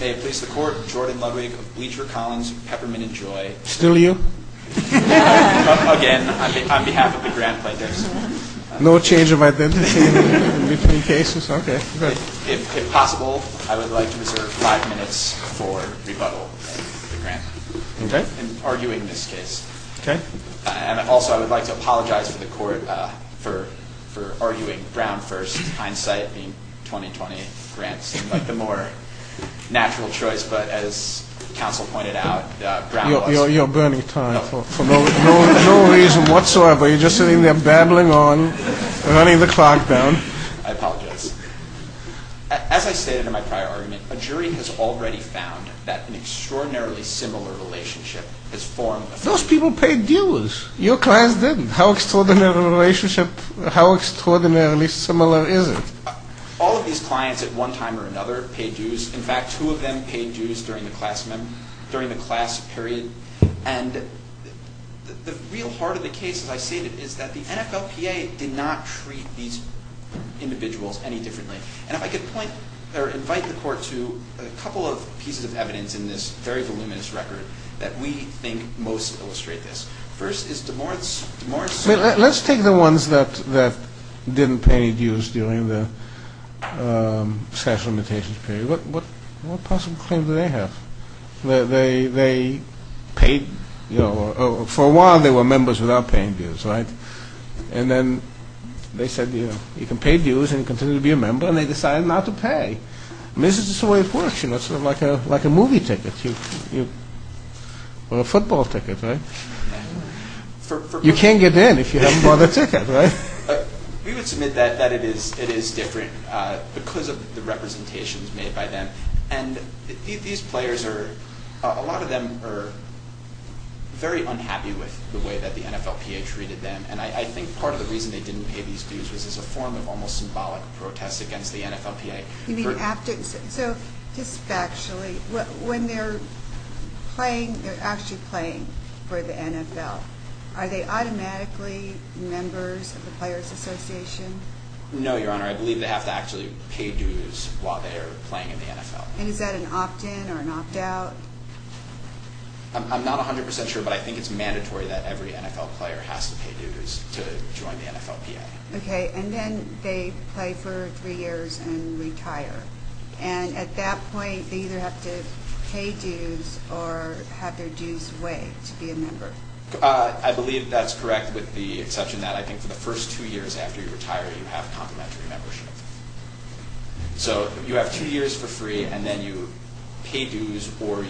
May it please the Court, Jordan Ludwig of Bleacher Collins, Peppermint and Joy Still you? Again, on behalf of the Grant Players No change of identity in between cases, okay If possible, I would like to reserve five minutes for rebuttal Okay In arguing this case Okay And also I would like to apologize to the Court for arguing Brown v. Hindsight being 2020 Grant seemed like the more natural choice, but as counsel pointed out, Brown was You're burning time for no reason whatsoever You're just sitting there babbling on, running the clock down I apologize As I stated in my prior argument, a jury has already found that an extraordinarily similar relationship has formed Those people paid dealers Your clients didn't How extraordinarily similar is it? All of these clients at one time or another paid dues In fact, two of them paid dues during the class period And the real heart of the case, as I stated, is that the NFLPA did not treat these individuals any differently And if I could invite the Court to a couple of pieces of evidence in this very voluminous record that we think most illustrate this First is DeMorth's What possible claim do they have? They paid, you know, for a while they were members without paying dues, right? And then they said, you know, you can pay dues and continue to be a member, and they decided not to pay And this is just the way it works, you know, sort of like a movie ticket Or a football ticket, right? You can't get in if you haven't bought a ticket, right? We would submit that it is different because of the representations made by them And these players are, a lot of them are very unhappy with the way that the NFLPA treated them And I think part of the reason they didn't pay these dues was as a form of almost symbolic protest against the NFLPA You mean after, so just factually, when they're playing, they're actually playing for the NFL Are they automatically members of the Players Association? No, Your Honor, I believe they have to actually pay dues while they're playing in the NFL And is that an opt-in or an opt-out? I'm not 100% sure, but I think it's mandatory that every NFL player has to pay dues to join the NFLPA Okay, and then they play for three years and retire And at that point they either have to pay dues or have their dues waived to be a member I believe that's correct with the exception that I think for the first two years after you retire you have complimentary membership So you have two years for free and then you pay dues or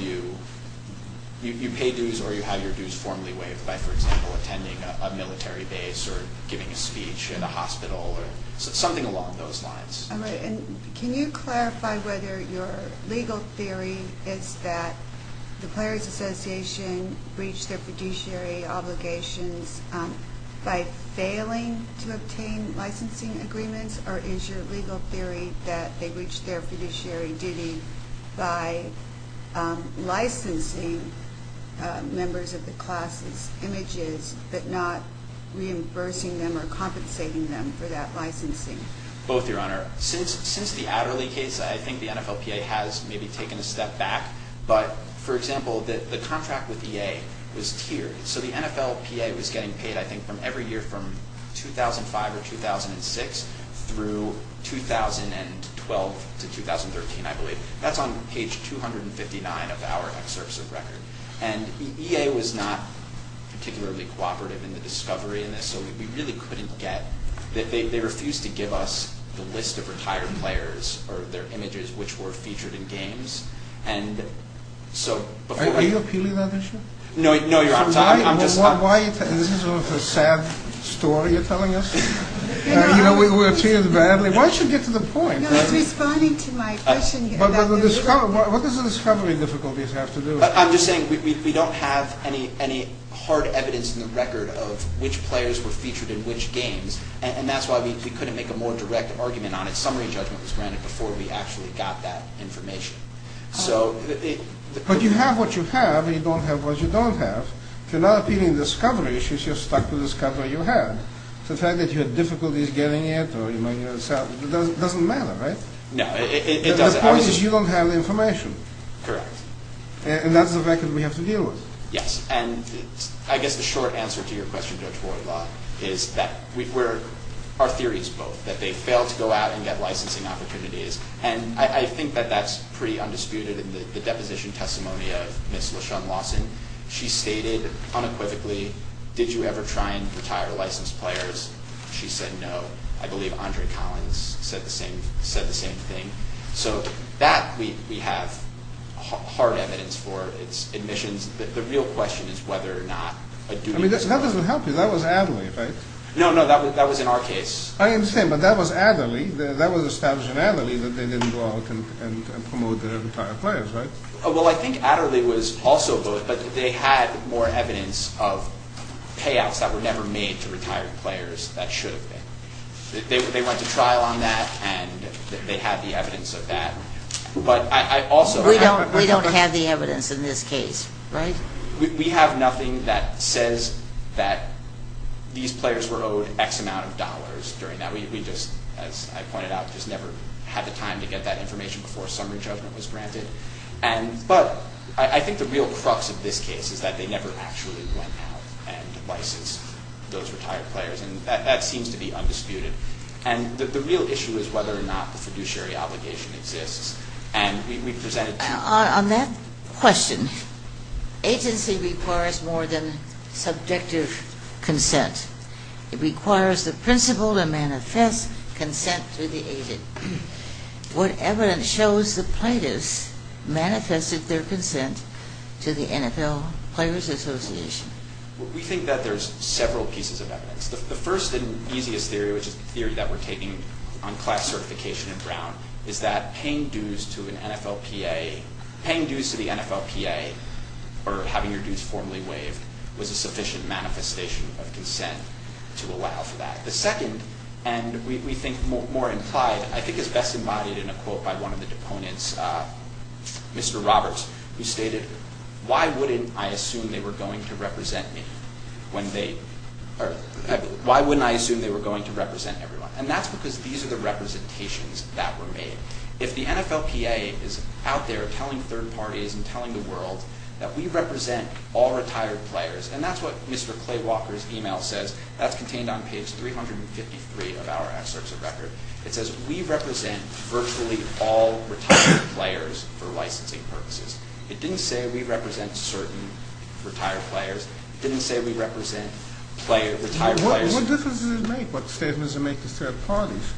you have your dues formally waived By, for example, attending a military base or giving a speech in a hospital or something along those lines And can you clarify whether your legal theory is that the Players Association breached their fiduciary obligations by failing to obtain licensing agreements or is your legal theory that they breached their fiduciary duty by licensing members of the class' images but not reimbursing them or compensating them for that licensing? Both, Your Honor. Since the Adderley case, I think the NFLPA has maybe taken a step back But, for example, the contract with EA was tiered So the NFLPA was getting paid, I think, from every year from 2005 or 2006 through 2012 to 2013, I believe That's on page 259 of our excerpts of record And EA was not particularly cooperative in the discovery of this So we really couldn't get, they refused to give us the list of retired players or their images which were featured in games Are you appealing that issue? No, you're on time This is sort of a sad story you're telling us? You know, we're treated badly. Why don't you get to the point? I was responding to my question What does the discovery difficulties have to do with it? I'm just saying we don't have any hard evidence in the record of which players were featured in which games And that's why we couldn't make a more direct argument on it Summary judgment was granted before we actually got that information But you have what you have and you don't have what you don't have If you're not appealing the discovery issues, you're stuck with the discovery you had The fact that you had difficulties getting it doesn't matter, right? No, it doesn't The point is you don't have the information Correct And that's the record we have to deal with Yes, and I guess the short answer to your question, Judge Voidlaw, is that our theory is both That they failed to go out and get licensing opportunities And I think that that's pretty undisputed in the deposition testimony of Ms. LaShun Lawson She stated unequivocally, did you ever try and retire licensed players? She said no I believe Andre Collins said the same thing So that we have hard evidence for its admissions The real question is whether or not a duty I mean that doesn't help you, that was Adderley, right? No, no, that was in our case I understand, but that was Adderley That was established in Adderley that they didn't go out and promote their retired players, right? Well, I think Adderley was also both But they had more evidence of payouts that were never made to retired players that should have been They went to trial on that and they had the evidence of that But I also We don't have the evidence in this case, right? We have nothing that says that these players were owed X amount of dollars during that We just, as I pointed out, just never had the time to get that information before summary judgment was granted But I think the real crux of this case is that they never actually went out and licensed those retired players And that seems to be undisputed And the real issue is whether or not the fiduciary obligation exists And we presented On that question, agency requires more than subjective consent It requires the principal to manifest consent to the agent What evidence shows the plaintiffs manifested their consent to the NFL Players Association? We think that there's several pieces of evidence The first and easiest theory, which is the theory that we're taking on class certification in Brown Is that paying dues to an NFL PA Paying dues to the NFL PA Or having your dues formally waived Was a sufficient manifestation of consent to allow for that The second, and we think more implied, I think is best embodied in a quote by one of the deponents Mr. Roberts, who stated Why wouldn't I assume they were going to represent me when they Why wouldn't I assume they were going to represent everyone? And that's because these are the representations that were made If the NFL PA is out there telling third parties and telling the world That we represent all retired players And that's what Mr. Clay Walker's email says That's contained on page 353 of our excerpts of record It says we represent virtually all retired players for licensing purposes It didn't say we represent certain retired players It didn't say we represent retired players What difference does it make? What statement does it make to third parties?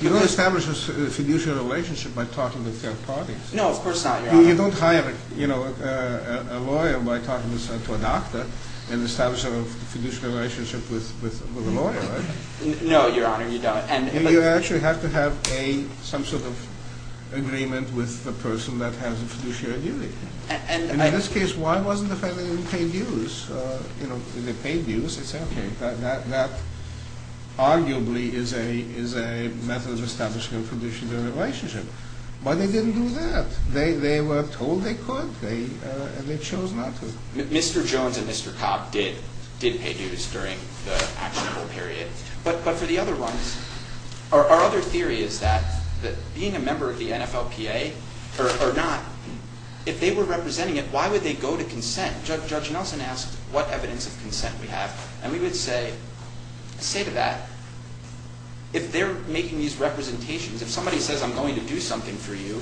You don't establish a fiduciary relationship by talking to third parties No, of course not, Your Honor You don't hire a lawyer by talking to a doctor And establish a fiduciary relationship with a lawyer, right? No, Your Honor, you don't You actually have to have some sort of agreement With the person that has a fiduciary duty And in this case, why wasn't the family going to pay dues? You know, they paid dues, it's okay That arguably is a method of establishing a fiduciary relationship But they didn't do that They were told they could, and they chose not to Mr. Jones and Mr. Cobb did pay dues during the actionable period But for the other ones, our other theory is that Being a member of the NFLPA or not If they were representing it, why would they go to consent? Judge Nelson asked what evidence of consent we have And we would say, say to that If they're making these representations If somebody says I'm going to do something for you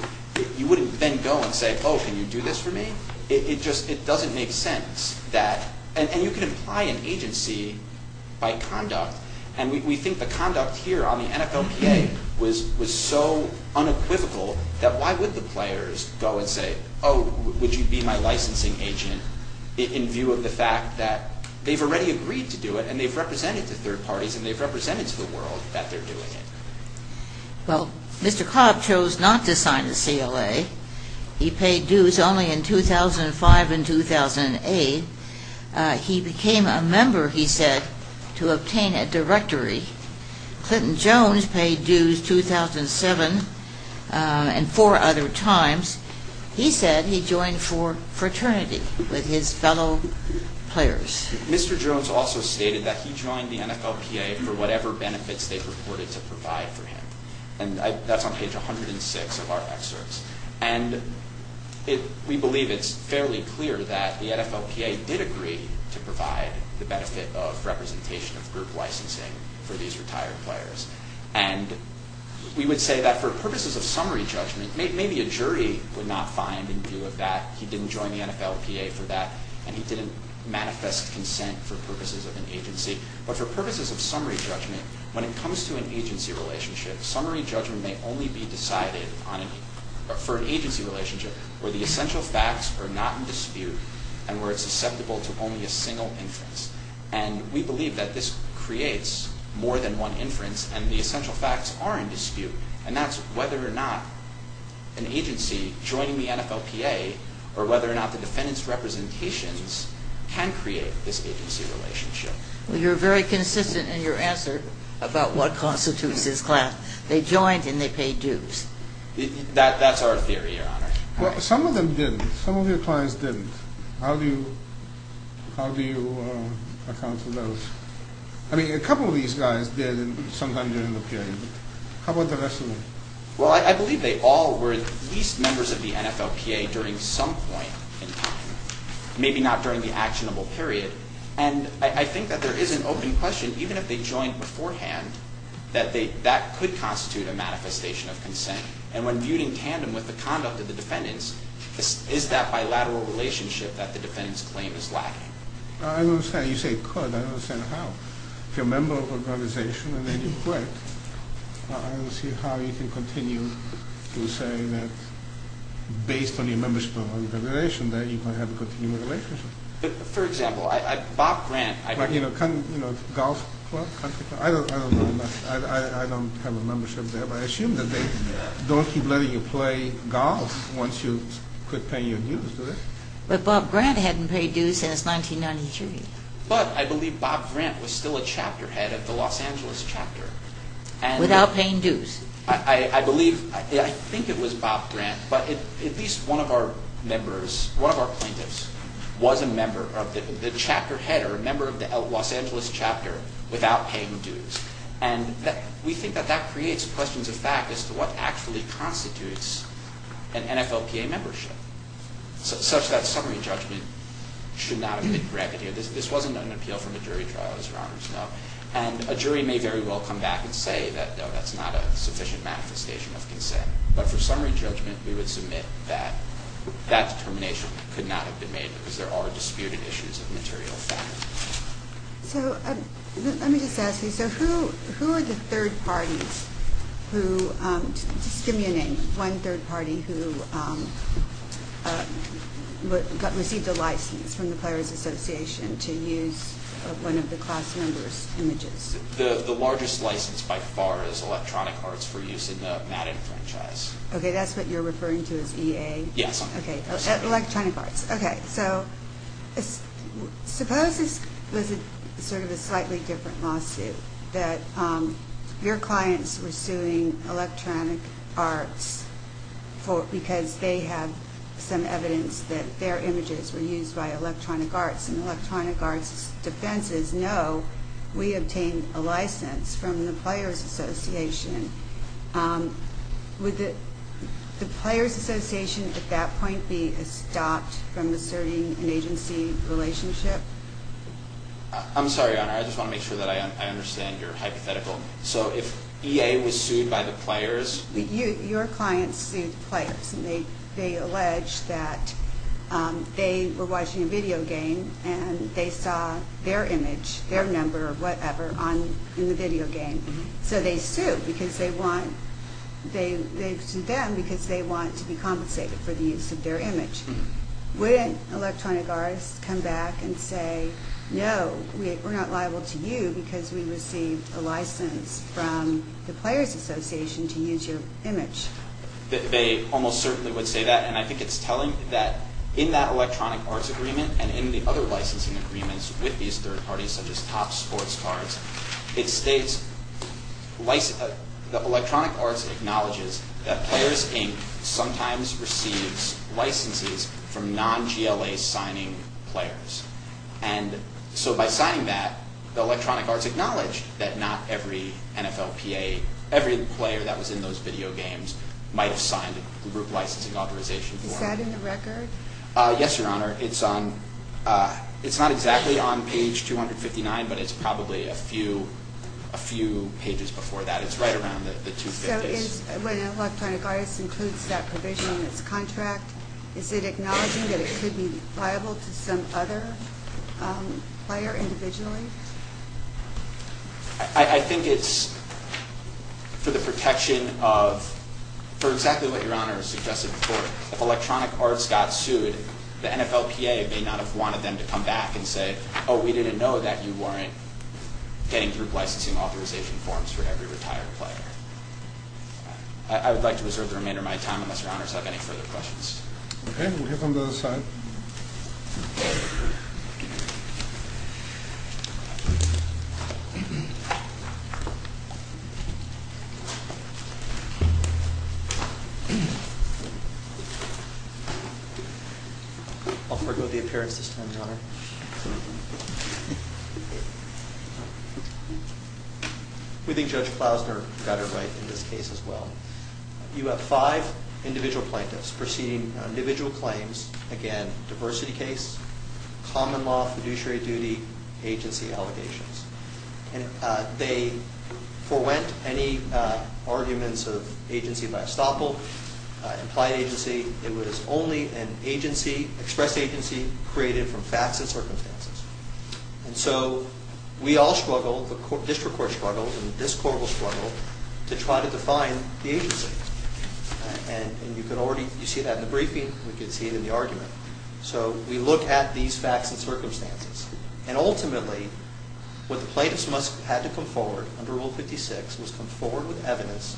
You wouldn't then go and say, oh, can you do this for me? It just doesn't make sense And you can imply an agency by conduct And we think the conduct here on the NFLPA was so unequivocal That why would the players go and say Oh, would you be my licensing agent? In view of the fact that they've already agreed to do it And they've represented to third parties And they've represented to the world that they're doing it Well, Mr. Cobb chose not to sign the CLA He paid dues only in 2005 and 2008 He became a member, he said, to obtain a directory Clinton Jones paid dues 2007 and four other times He said he joined for fraternity with his fellow players Mr. Jones also stated that he joined the NFLPA For whatever benefits they purported to provide for him And that's on page 106 of our excerpts And we believe it's fairly clear that the NFLPA did agree To provide the benefit of representation of group licensing For these retired players And we would say that for purposes of summary judgment Maybe a jury would not find in view of that He didn't join the NFLPA for that And he didn't manifest consent for purposes of an agency But for purposes of summary judgment When it comes to an agency relationship Summary judgment may only be decided for an agency relationship Where the essential facts are not in dispute And where it's susceptible to only a single inference And we believe that this creates more than one inference And the essential facts are in dispute And that's whether or not an agency joining the NFLPA Or whether or not the defendant's representations Can create this agency relationship Well, you're very consistent in your answer About what constitutes this class They joined and they paid dues That's our theory, your honor Well, some of them didn't Some of your clients didn't How do you account for those? I mean, a couple of these guys did sometime during the period How about the rest of them? Well, I believe they all were at least members of the NFLPA During some point in time Maybe not during the actionable period And I think that there is an open question Even if they joined beforehand That could constitute a manifestation of consent And when viewed in tandem with the conduct of the defendants Is that bilateral relationship that the defendants claim is lacking? I don't understand You say it could I don't understand how If you're a member of an organization and then you quit I don't see how you can continue to say that Based on your membership of an organization That you can have a continuing relationship But, for example, Bob Grant You know, golf club? I don't know I don't have a membership there But I assume that they don't keep letting you play golf Once you quit paying your dues to them But Bob Grant hadn't paid dues since 1993 But I believe Bob Grant was still a chapter head of the Los Angeles chapter Without paying dues I believe, I think it was Bob Grant But at least one of our members, one of our plaintiffs Was a member of the chapter head Or a member of the Los Angeles chapter Without paying dues And we think that that creates questions of fact As to what actually constitutes an NFLPA membership Such that summary judgment should not have been granted This wasn't an appeal from a jury trial, as your honors know And a jury may very well come back and say That that's not a sufficient manifestation of consent But for summary judgment we would submit that That determination could not have been made Because there are disputed issues of material fact So, let me just ask you So who are the third parties who Just give me a name One third party who Received a license from the Players Association To use one of the class members' images The largest license by far is Electronic Arts For use in the Madden franchise Okay, that's what you're referring to as EA? Yes Electronic Arts, okay So, suppose this was sort of a slightly different lawsuit That your clients were suing Electronic Arts Because they have some evidence That their images were used by Electronic Arts And Electronic Arts' defense is No, we obtained a license from the Players Association Would the Players Association at that point Be stopped from asserting an agency relationship? I'm sorry, your honor I just want to make sure that I understand your hypothetical So if EA was sued by the players Your clients sued the players And they allege that they were watching a video game And they saw their image, their number or whatever In the video game So they sued because they want They sued them because they want to be compensated For the use of their image Wouldn't Electronic Arts come back and say No, we're not liable to you Because we received a license from the Players Association To use your image? They almost certainly would say that And I think it's telling that In that Electronic Arts agreement And in the other licensing agreements With these third parties such as Top Sports Cards It states that Electronic Arts acknowledges That Players Inc. sometimes receives licenses From non-GLA signing players And so by signing that Electronic Arts acknowledged that not every NFLPA Every player that was in those video games Might have signed a group licensing authorization Is that in the record? Yes, your honor It's not exactly on page 259 But it's probably a few pages before that It's right around the 250s So when Electronic Arts includes that provision in its contract Is it acknowledging that it could be liable To some other player individually? I think it's for the protection of For exactly what your honor suggested before If Electronic Arts got sued The NFLPA may not have wanted them to come back and say Oh, we didn't know that you weren't getting group licensing Authorization forms for every retired player I would like to reserve the remainder of my time Unless your honors have any further questions I'll forgo the appearance this time, your honor We think Judge Klausner got it right in this case as well You have five individual plaintiffs Proceeding on individual claims Again, diversity case Common law, fiduciary duty Agency allegations And they forewent any arguments of agency by estoppel Implied agency It was only an agency, expressed agency Created from facts and circumstances And so we all struggle, the district court struggles And this court will struggle To try to define the agency And you can already see that in the briefing We can see it in the argument So we look at these facts and circumstances And ultimately what the plaintiffs had to come forward Under Rule 56 was come forward with evidence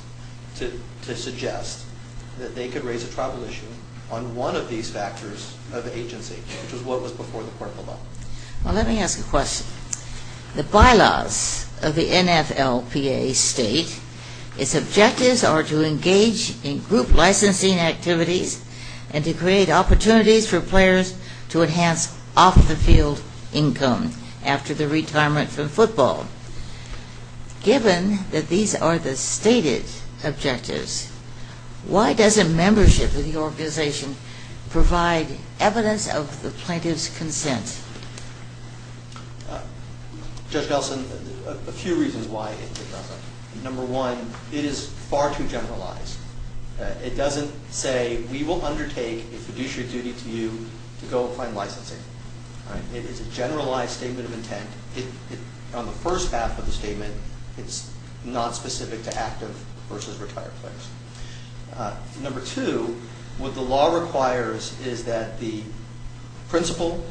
To suggest that they could raise a tribal issue On one of these factors of agency Which was what was before the court of law Well, let me ask a question The bylaws of the NFLPA state Its objectives are to engage in group licensing activities And to create opportunities for players To enhance off-the-field income After the retirement from football Given that these are the stated objectives Why doesn't membership of the organization Provide evidence of the plaintiff's consent? Judge Nelson, a few reasons why it doesn't Number one, it is far too generalized It doesn't say we will undertake A fiduciary duty to you to go and find licensing It is a generalized statement of intent On the first half of the statement It's not specific to active versus retired players Number two, what the law requires Is that the principal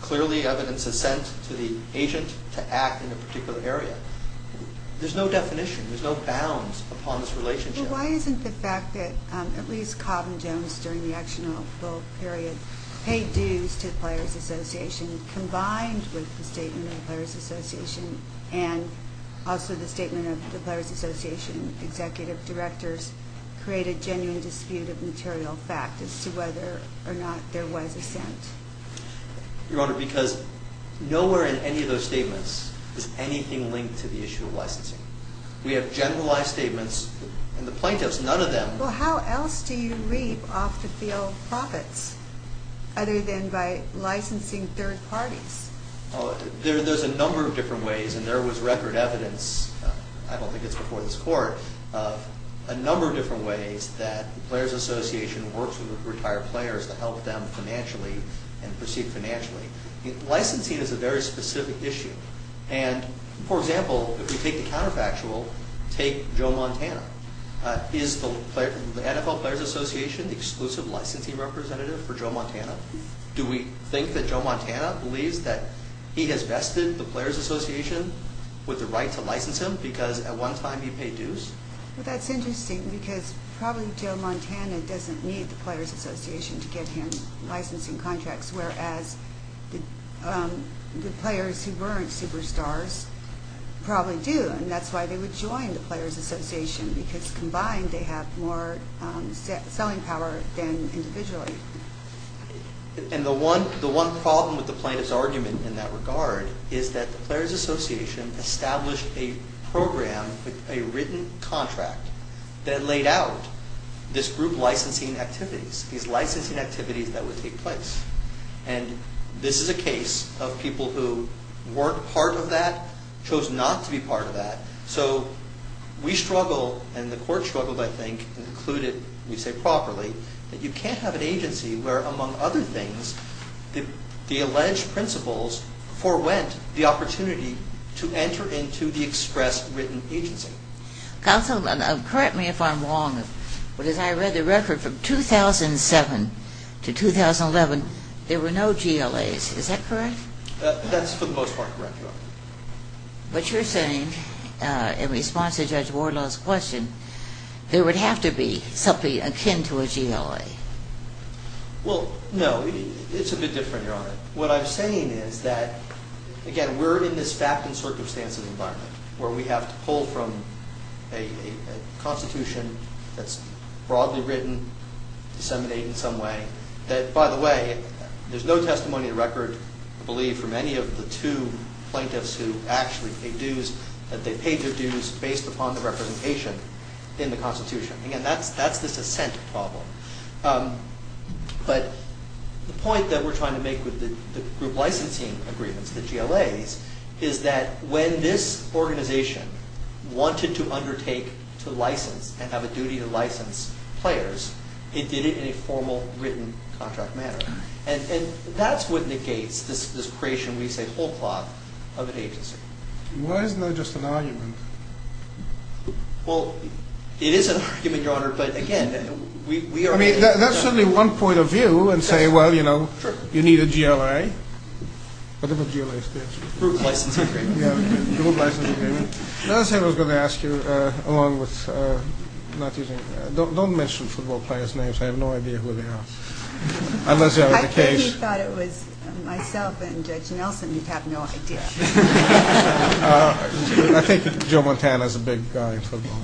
Clearly evidence is sent to the agent To act in a particular area There's no definition, there's no bounds Upon this relationship Well, why isn't the fact that At least Cobham-Jones during the actionable period Paid dues to the Players Association Combined with the statement of the Players Association And also the statement of the Players Association Executive Directors Create a genuine dispute of material fact As to whether or not there was assent? Your Honor, because nowhere in any of those statements Is anything linked to the issue of licensing We have generalized statements And the plaintiffs, none of them Well, how else do you reap off the field profits Other than by licensing third parties? There's a number of different ways And there was record evidence I don't think it's before this Court Of a number of different ways That the Players Association works with retired players To help them financially And proceed financially Licensing is a very specific issue And, for example, if we take the counterfactual Take Joe Montana Is the NFL Players Association The exclusive licensing representative for Joe Montana? Do we think that Joe Montana Believes that he has vested the Players Association With the right to license him Because at one time he paid dues? Well, that's interesting Because probably Joe Montana Doesn't need the Players Association To get him licensing contracts Whereas the players who weren't superstars Probably do And that's why they would join the Players Association Because combined they have more selling power Than individually And the one problem with the plaintiff's argument In that regard Is that the Players Association Established a program With a written contract That laid out this group licensing activities These licensing activities that would take place And this is a case of people who weren't part of that Chose not to be part of that So we struggle And the court struggled, I think Included, we say properly That you can't have an agency Where, among other things The alleged principles Forewent the opportunity To enter into the express written agency Counsel, correct me if I'm wrong But as I read the record From 2007 to 2011 There were no GLAs, is that correct? That's for the most part correct, Your Honor But you're saying In response to Judge Wardlow's question There would have to be Something akin to a GLA Well, no It's a bit different, Your Honor What I'm saying is that Again, we're in this fact and circumstance environment Where we have to pull from A constitution that's broadly written Disseminated in some way That, by the way There's no testimony in the record I believe, from any of the two plaintiffs Who actually paid dues That they paid their dues Based upon the representation In the constitution Again, that's this assent problem But the point that we're trying to make With the group licensing agreements The GLAs Is that when this organization Wanted to undertake to license And have a duty to license players It did it in a formal, written contract manner And that's what negates This creation, we say, whole cloth Of an agency Why isn't that just an argument? Well, it is an argument, Your Honor But again, we are I mean, that's certainly one point of view And say, well, you know You need a GLA What about GLA states? Group licensing agreement I was going to ask you Along with Not using Don't mention football players' names I have no idea who they are I think he thought it was Myself and Judge Nelson You have no idea I think Joe Montana is a big guy in football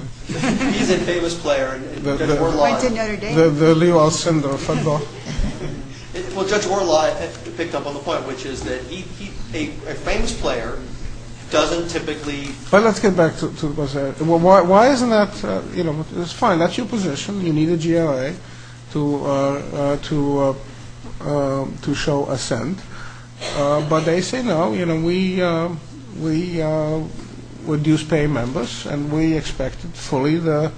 He's a famous player Who went to Notre Dame? The Leewald syndrome of football Well, Judge Orlott Picked up on the point Which is that A famous player Doesn't typically But let's get back to Why isn't that It's fine, that's your position You need a GLA To To show assent But they say, no We Reduce pay members And we expect fully The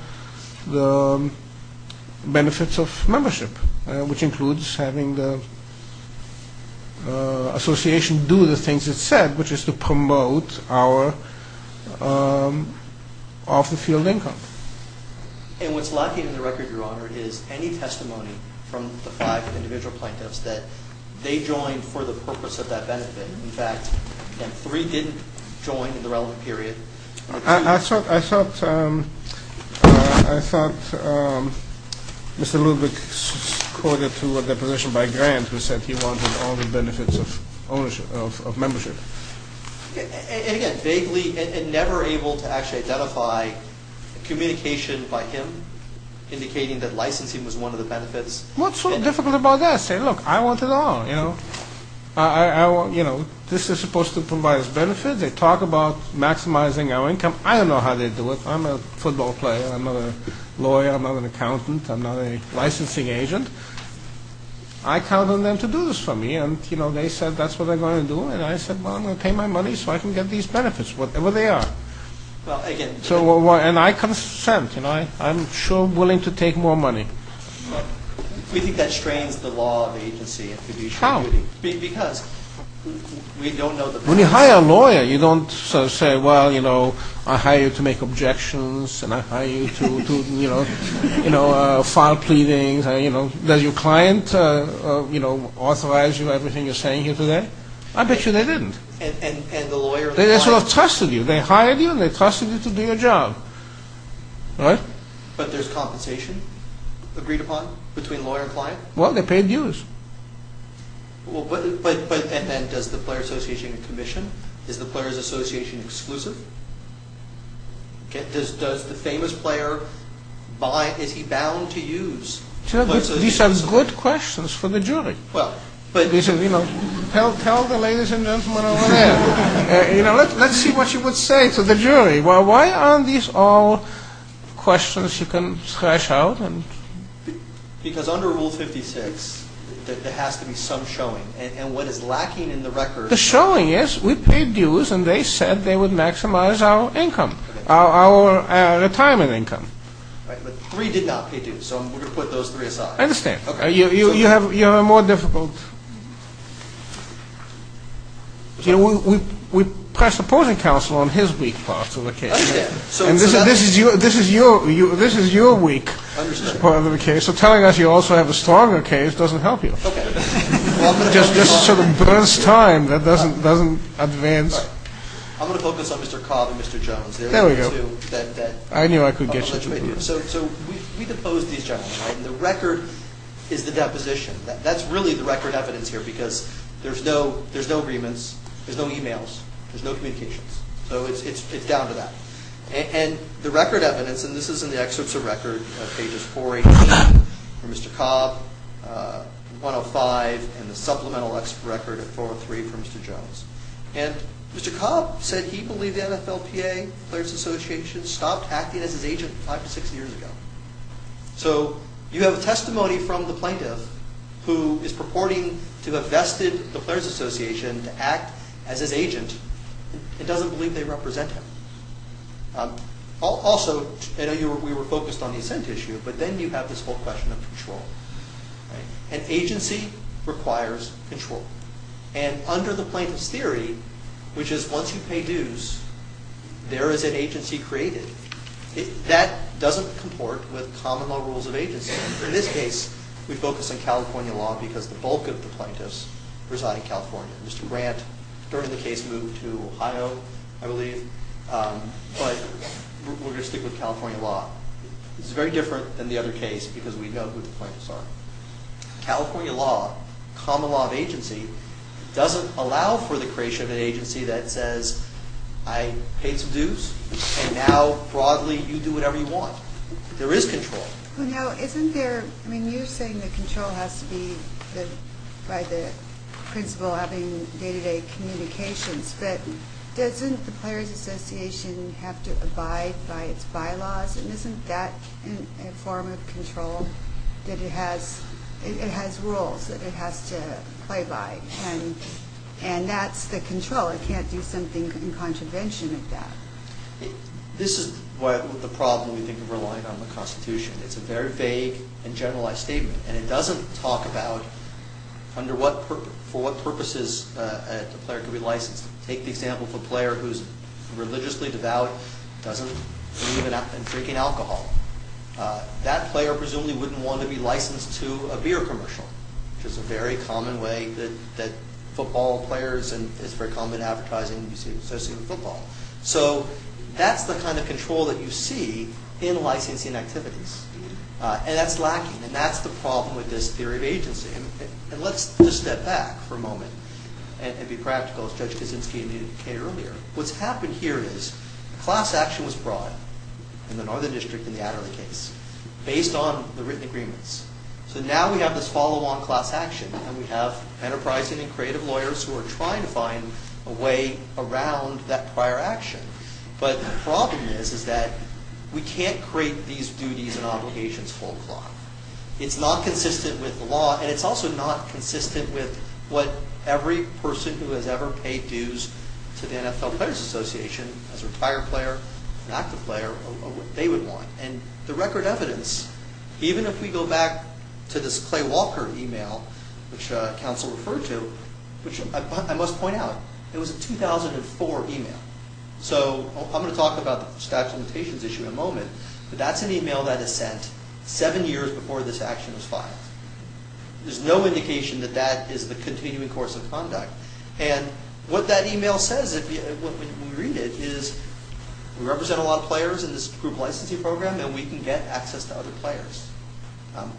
Benefits of membership Which includes having the Association do the things it said Which is to promote our Off the field income And what's lacking in the record, your honor Is any testimony from the five Individual plaintiffs that They joined for the purpose of that benefit In fact, them three didn't Join in the relevant period I thought I thought Mr. Lubick Quoted to a deposition by Grant Who said he wanted all the benefits of Ownership, of membership And again, vaguely And never able to actually identify Communication by him Indicating that licensing Was one of the benefits What's so difficult about that? Say, look, I want it all This is supposed to provide us benefits They talk about maximizing our income I don't know how they do it I'm a football player, I'm not a lawyer I'm not an accountant, I'm not a licensing agent I count on them To do this for me And they said that's what they're going to do And I said, well, I'm going to pay my money So I can get these benefits, whatever they are And I consent I'm sure willing to take more money We think that strains The law of agency Because When you hire a lawyer You don't say, well, you know I hire you to make objections And I hire you to You know, file pleadings Does your client Authorize you Everything you're saying here today? I bet you they didn't They sort of trusted you They hired you and they trusted you to do your job Right? But there's compensation Agreed upon between lawyer and client? Well, they paid dues And does the player's association commission? Is the player's association exclusive? Does the famous player Is he bound to use These are good questions For the jury Tell the ladies and gentlemen over there Let's see what you would say To the jury Why aren't these all Questions you can thrash out Because under rule 56 There has to be some showing And what is lacking in the record The showing is We paid dues and they said They would maximize our income Our retirement income Right, but three did not pay dues So we're going to put those three aside I understand You have a more difficult You know, we Pressed opposing counsel on his weak Part of the case And this is your weak Part of the case So telling us you also have a stronger case Doesn't help you Just sort of burns time That doesn't advance I'm going to focus on Mr. Cobb and Mr. Jones There we go I knew I could get you So we deposed these gentlemen And the record is the deposition That's really the record evidence here Because there's no agreements There's no e-mails There's no communications So it's down to that And the record evidence And this is in the excerpts of record For Mr. Cobb 105 And the supplemental record 403 for Mr. Jones And Mr. Cobb said he believed the NFLPA Players Association Stopped acting as his agent five to six years ago So you have a testimony From the plaintiff Who is purporting to have vested The Players Association to act As his agent And doesn't believe they represent him Also We were focused on the assent issue But then you have this whole question of control And agency Requires control And under the plaintiff's theory Which is once you pay dues There is an agency created That doesn't comport With common law rules of agency In this case we focus on California law Because the bulk of the plaintiffs Reside in California Mr. Grant during the case moved to Ohio I believe But we're going to stick with California law This is very different than the other case Because we know who the plaintiffs are California law Common law of agency Doesn't allow for the creation of an agency That says I paid some dues And now broadly You do whatever you want There is control You're saying that control has to be By the Principal having day to day Communications But doesn't the Players Association Have to abide by its bylaws And isn't that A form of control That it has It has rules that it has to play by And that's the control It can't do something in contravention Of that This is the problem we think of Relying on the Constitution It's a very vague and generalized statement And it doesn't talk about For what purposes A player can be licensed Take the example of a player who's Religiously devout Doesn't believe in drinking alcohol That player presumably Wouldn't want to be licensed to a beer commercial Which is a very common way That football players And it's very common in advertising Associated with football So that's the kind of control that you see In licensing activities And that's the problem with this theory of agency And let's just step back for a moment And be practical As Judge Kaczynski indicated earlier What's happened here is Class action was brought In the Northern District in the Adderley case Based on the written agreements So now we have this follow on class action And we have enterprising and creative lawyers Who are trying to find a way Around that prior action But the problem is Is that we can't create these duties And obligations full clock It's not consistent with the law And it's also not consistent with What every person who has ever Paid dues to the NFL Players Association As a retired player An active player Of what they would want And the record evidence Even if we go back to this Clay Walker email Which counsel referred to Which I must point out It was a 2004 email So I'm going to talk about the statute of limitations issue In a moment But that's an email that is sent Seven years before this action was filed There's no indication That that is the continuing course of conduct And what that email says When we read it Is we represent a lot of players In this group licensing program And we can get access to other players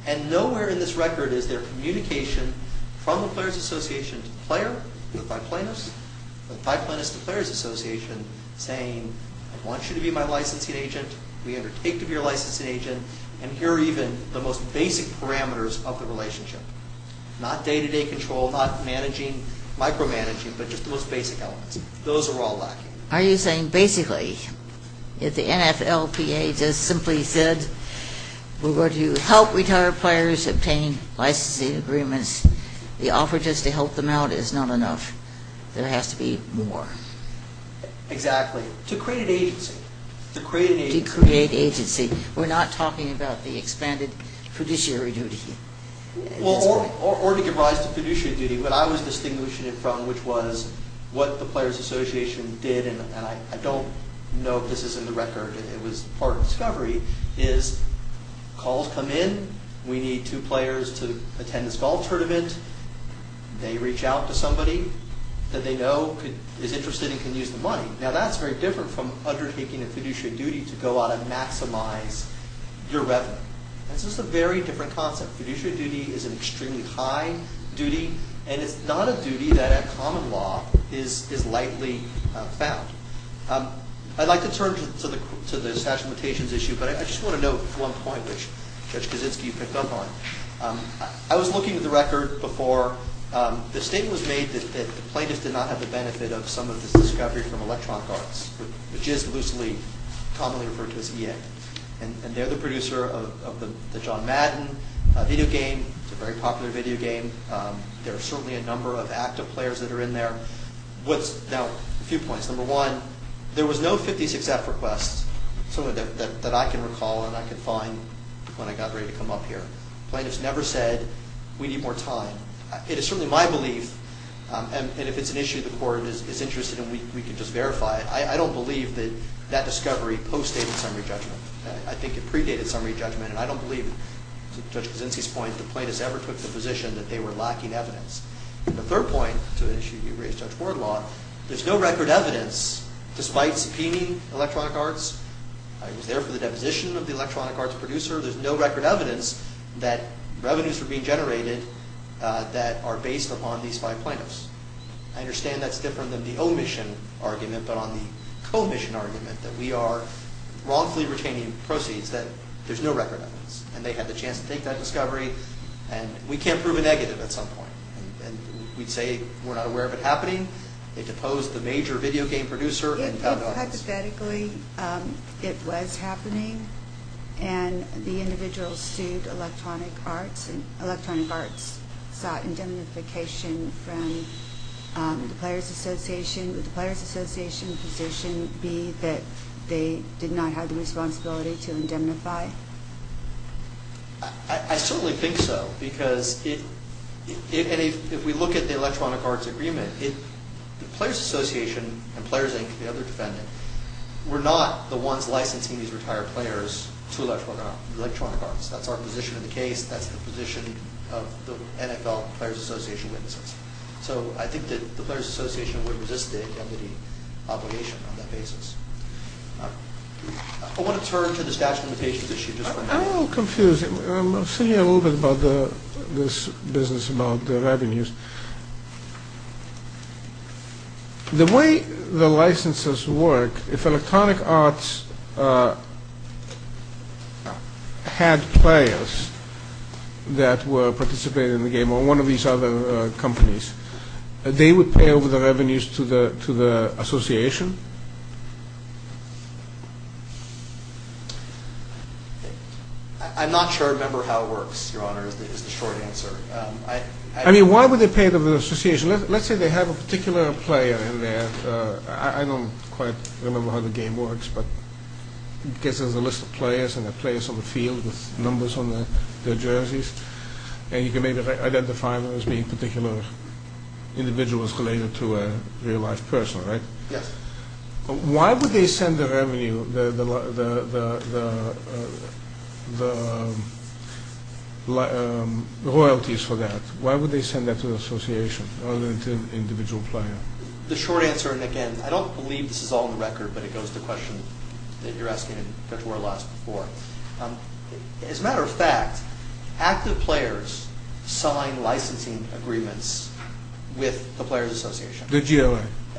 And nowhere in this record Is there communication from the Players Association To the player, the five plaintiffs The five plaintiffs to the Players Association Saying I want you to be my licensing agent We undertake to be your licensing agent And here are even the most basic parameters Of the relationship Not day-to-day control Not managing, micromanaging But just the most basic elements Those are all lacking Are you saying basically If the NFLPA just simply said We're going to help retired players Obtain licensing agreements The offer just to help them out is not enough There has to be more Exactly To create an agency To create agency We're not talking about the expanded Fiduciary duty Or to give rise to fiduciary duty What I was distinguishing it from Which was what the Players Association Did and I don't know If this is in the record It was part of discovery Is calls come in We need two players to attend this golf tournament They reach out to somebody That they know Is interested and can use the money Now that's very different from undertaking a fiduciary duty To go out and maximize Your revenue That's just a very different concept Fiduciary duty is an extremely high duty And it's not a duty that At common law is lightly Found I'd like to turn to the statute of limitations Issue but I just want to note One point which Judge Kaczynski picked up on I was looking at the record Before the statement The statement was made that The plaintiffs did not have the benefit Of some of this discovery from electronic arts Which is loosely commonly referred to as EA And they're the producer of the John Madden video game It's a very popular video game There are certainly a number of active players That are in there Now a few points Number one, there was no 56F request That I can recall and I can find When I got ready to come up here Plaintiffs never said We need more time It is certainly my belief And if it's an issue the court is interested in We can just verify it I don't believe that that discovery postdated Summary judgment I think it predated summary judgment And I don't believe, to Judge Kaczynski's point That the plaintiffs ever took the position That they were lacking evidence And the third point There's no record evidence Despite subpoenaing electronic arts I was there for the deposition of the electronic arts producer There's no record evidence That revenues were being generated That are based upon these five plaintiffs I understand that's different Than the omission argument But on the commission argument That we are wrongfully retaining proceeds That there's no record evidence And they had the chance to take that discovery And we can't prove a negative at some point And we'd say we're not aware of it happening They deposed the major video game producer And found evidence Hypothetically it was happening And the individual sued electronic arts Electronic arts sought indemnification From the Players Association Would the Players Association position be That they did not have the responsibility To indemnify? I certainly think so Because If we look at the Electronic Arts Agreement The Players Association And Players Inc. The other defendant Were not the ones licensing These retired players To electronic arts That's our position in the case That's the position of the NFL Players Association witnesses So I think that the Players Association Would resist the indemnity obligation On that basis I want to turn to the statute of limitations issue I'm a little confused I'm thinking a little bit about This business about the revenues The way the licenses work If electronic arts Had players That were participating In the game Or one of these other companies They would pay over the revenues To the association? I'm not sure I remember how it works Your honor is the short answer I mean why would they pay To the association Let's say they have a particular player I don't quite remember how the game works I guess there's a list of players And the players on the field With numbers on their jerseys And you can maybe identify them As being particular individuals Related to a real life person Yes Why would they send the revenue The royalties for that Why would they send that to the association Rather than to an individual player The short answer again I don't believe this is all on the record But it goes to the question That you're asking As a matter of fact Active players Sign licensing agreements With the players association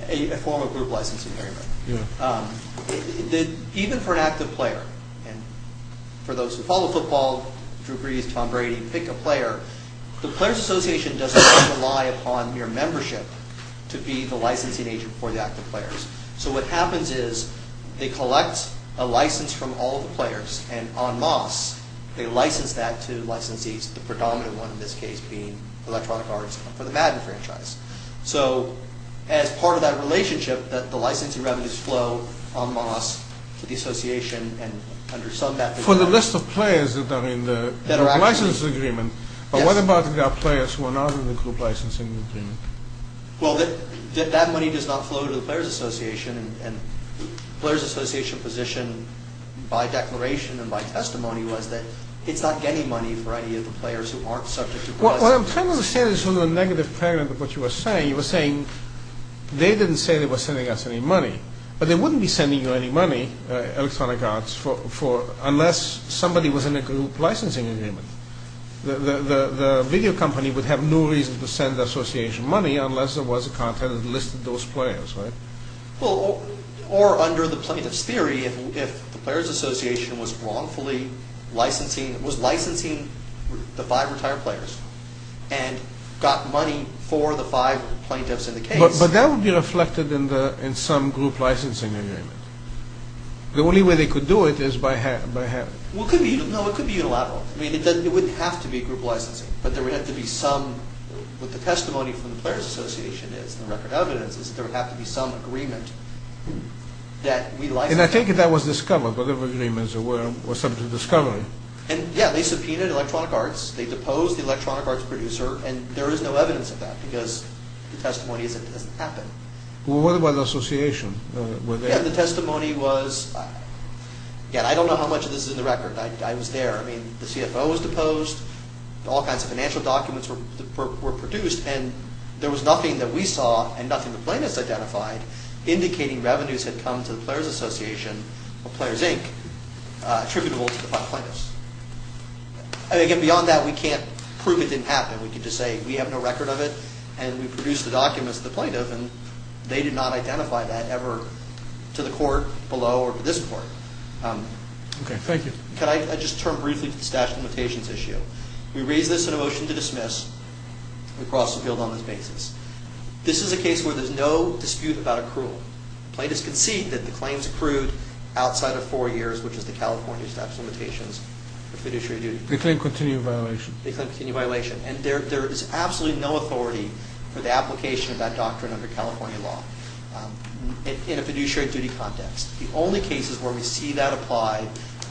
A form of group licensing Even for an active player For those who follow football Drew Brees, Tom Brady Pick a player The players association Doesn't rely upon mere membership To be the licensing agent For the active players So what happens is They collect a license from all the players And en masse They license that to licensees The predominant one in this case Being Electronic Arts for the Madden franchise So as part of that relationship The licensing revenues flow en masse To the association For the list of players That are in the licensing agreement But what about the players Who are not in the group licensing agreement Well that money does not flow To the players association And the players association position By declaration and by testimony Was that it's not getting money For any of the players who aren't subject to Well what I'm trying to understand Is the negative parent of what you were saying You were saying they didn't say They were sending us any money But they wouldn't be sending you any money Electronic Arts Unless somebody Was in a group licensing agreement The video company Would have no reason to send the association Money unless there was content That listed those players Or under the plaintiff's theory If the players association Was wrongfully licensing Was licensing the five retired players And got money For the five plaintiffs in the case But that would be reflected In some group licensing agreement The only way they could do it Is by having Well it could be unilateral I mean it wouldn't have to be group licensing But there would have to be some What the testimony from the players association is And the record evidence is that there would have to be some agreement That we license And I take it that was discovered Whatever agreements there were And yeah they subpoenaed Electronic Arts They deposed the Electronic Arts producer And there is no evidence of that Because the testimony is that it doesn't happen Well what about the association? Yeah the testimony was Yeah I don't know how much of this is in the record I was there I mean the CFO was deposed All kinds of financial documents were produced And there was nothing that we saw And nothing the plaintiffs identified Indicating revenues had come to the players association Or players inc Attributable to the five plaintiffs And again beyond that We can't prove it didn't happen We can just say we have no record of it And we produced the documents to the plaintiff And they did not identify that ever To the court below Or to this court Okay thank you Can I just turn briefly to the statute of limitations issue We raise this in a motion to dismiss We cross the field on this basis This is a case where there is no dispute about accrual Plaintiffs concede that the claims accrued Outside of four years Which is the California statute of limitations Which we do show you They claim continued violation And there is absolutely no authority For the application of that doctrine Under California law In a fiduciary duty context The only cases where we see that apply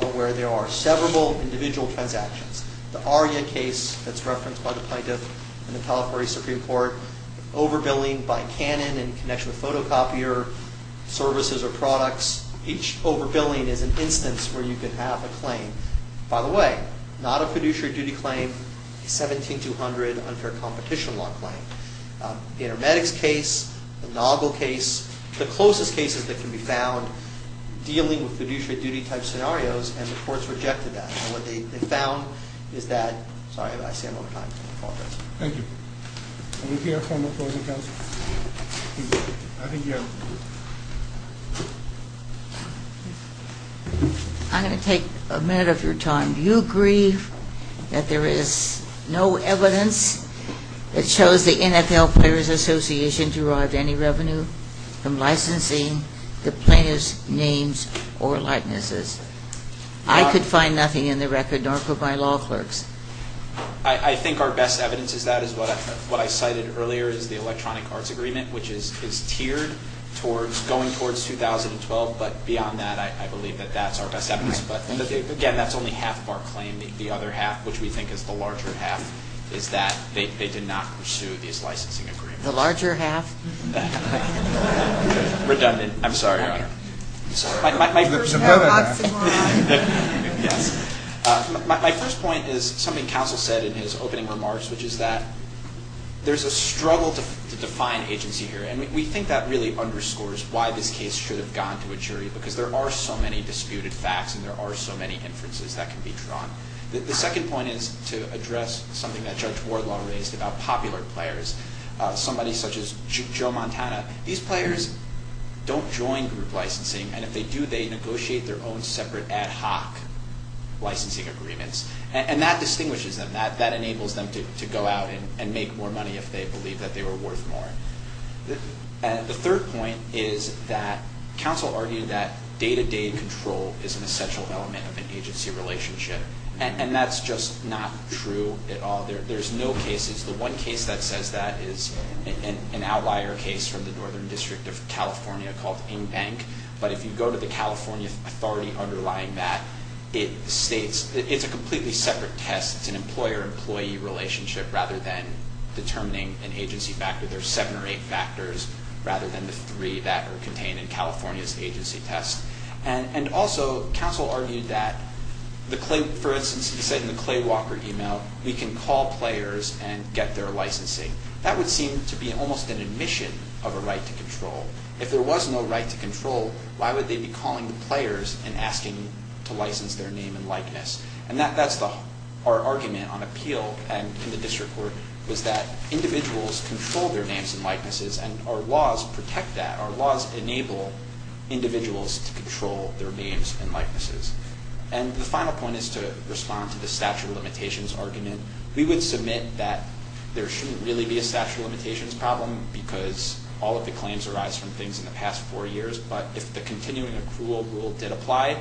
Are where there are several individual transactions The Aria case That's referenced by the plaintiff In the California Supreme Court Overbilling by Canon In connection with photocopier services or products Each overbilling is an instance Where you can have a claim By the way Not a fiduciary duty claim A 17200 unfair competition law claim Intermedics case The Noggle case The closest cases that can be found Dealing with fiduciary duty type scenarios And the courts rejected that And what they found is that Sorry I see I'm out of time Thank you Are we clear from the closing counsel I think you're Thank you I'm going to take a minute of your time Do you agree That there is no evidence That shows the NFL Players Association derived any revenue From licensing The plaintiff's names Or likenesses I could find nothing in the record Nor could my law clerks I think our best evidence is that Is what I cited earlier Is the electronic arts agreement Which is tiered Going towards 2012 But beyond that I believe that that's our best evidence But again that's only half of our claim The other half which we think is the larger half Is that they did not Pursue these licensing agreements The larger half Redundant I'm sorry My first point is Something counsel said in his opening remarks Which is that There's a struggle to define agency here And we think that really underscores Why this case should have gone to a jury Because there are so many disputed facts And there are so many inferences that can be drawn The second point is to address Something that Judge Wardlaw raised About popular players Somebody such as Joe Montana These players don't join group licensing And if they do they negotiate their own Separate ad hoc Licensing agreements And that distinguishes them That enables them to go out And make more money if they believe that they were worth more The third point Is that counsel argued That day-to-day control Is an essential element of an agency relationship And that's just not true At all There's no cases The one case that says that is an outlier case From the Northern District of California Called InBank But if you go to the California authority underlying that It states It's a completely separate test It's an employer-employee relationship Rather than determining an agency factor There's seven or eight factors Rather than the three that are contained In California's agency test And also, counsel argued that For instance, he said in the Clay Walker email We can call players And get their licensing That would seem to be almost an admission Of a right to control If there was no right to control Why would they be calling the players And asking to license their name and likeness And that's our argument On appeal And in the district court Was that individuals control their names and likenesses And our laws protect that Our laws enable individuals To control their names and likenesses And the final point is to respond To the statute of limitations argument We would submit that There shouldn't really be a statute of limitations problem Because all of the claims arise From things in the past four years But if the continuing accrual rule did apply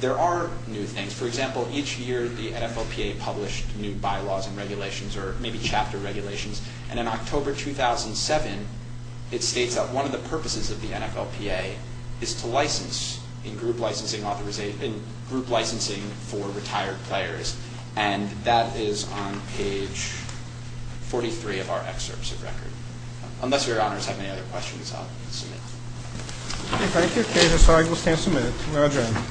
There are new things For example, each year the NFLPA Published new bylaws and regulations Or maybe chapter regulations And in October 2007 It states that one of the purposes of the NFLPA Is to license In group licensing For retired players And that is On page 43 of our excerpts of record Unless your honors have any other questions I'll submit Thank you. We'll stand to submit.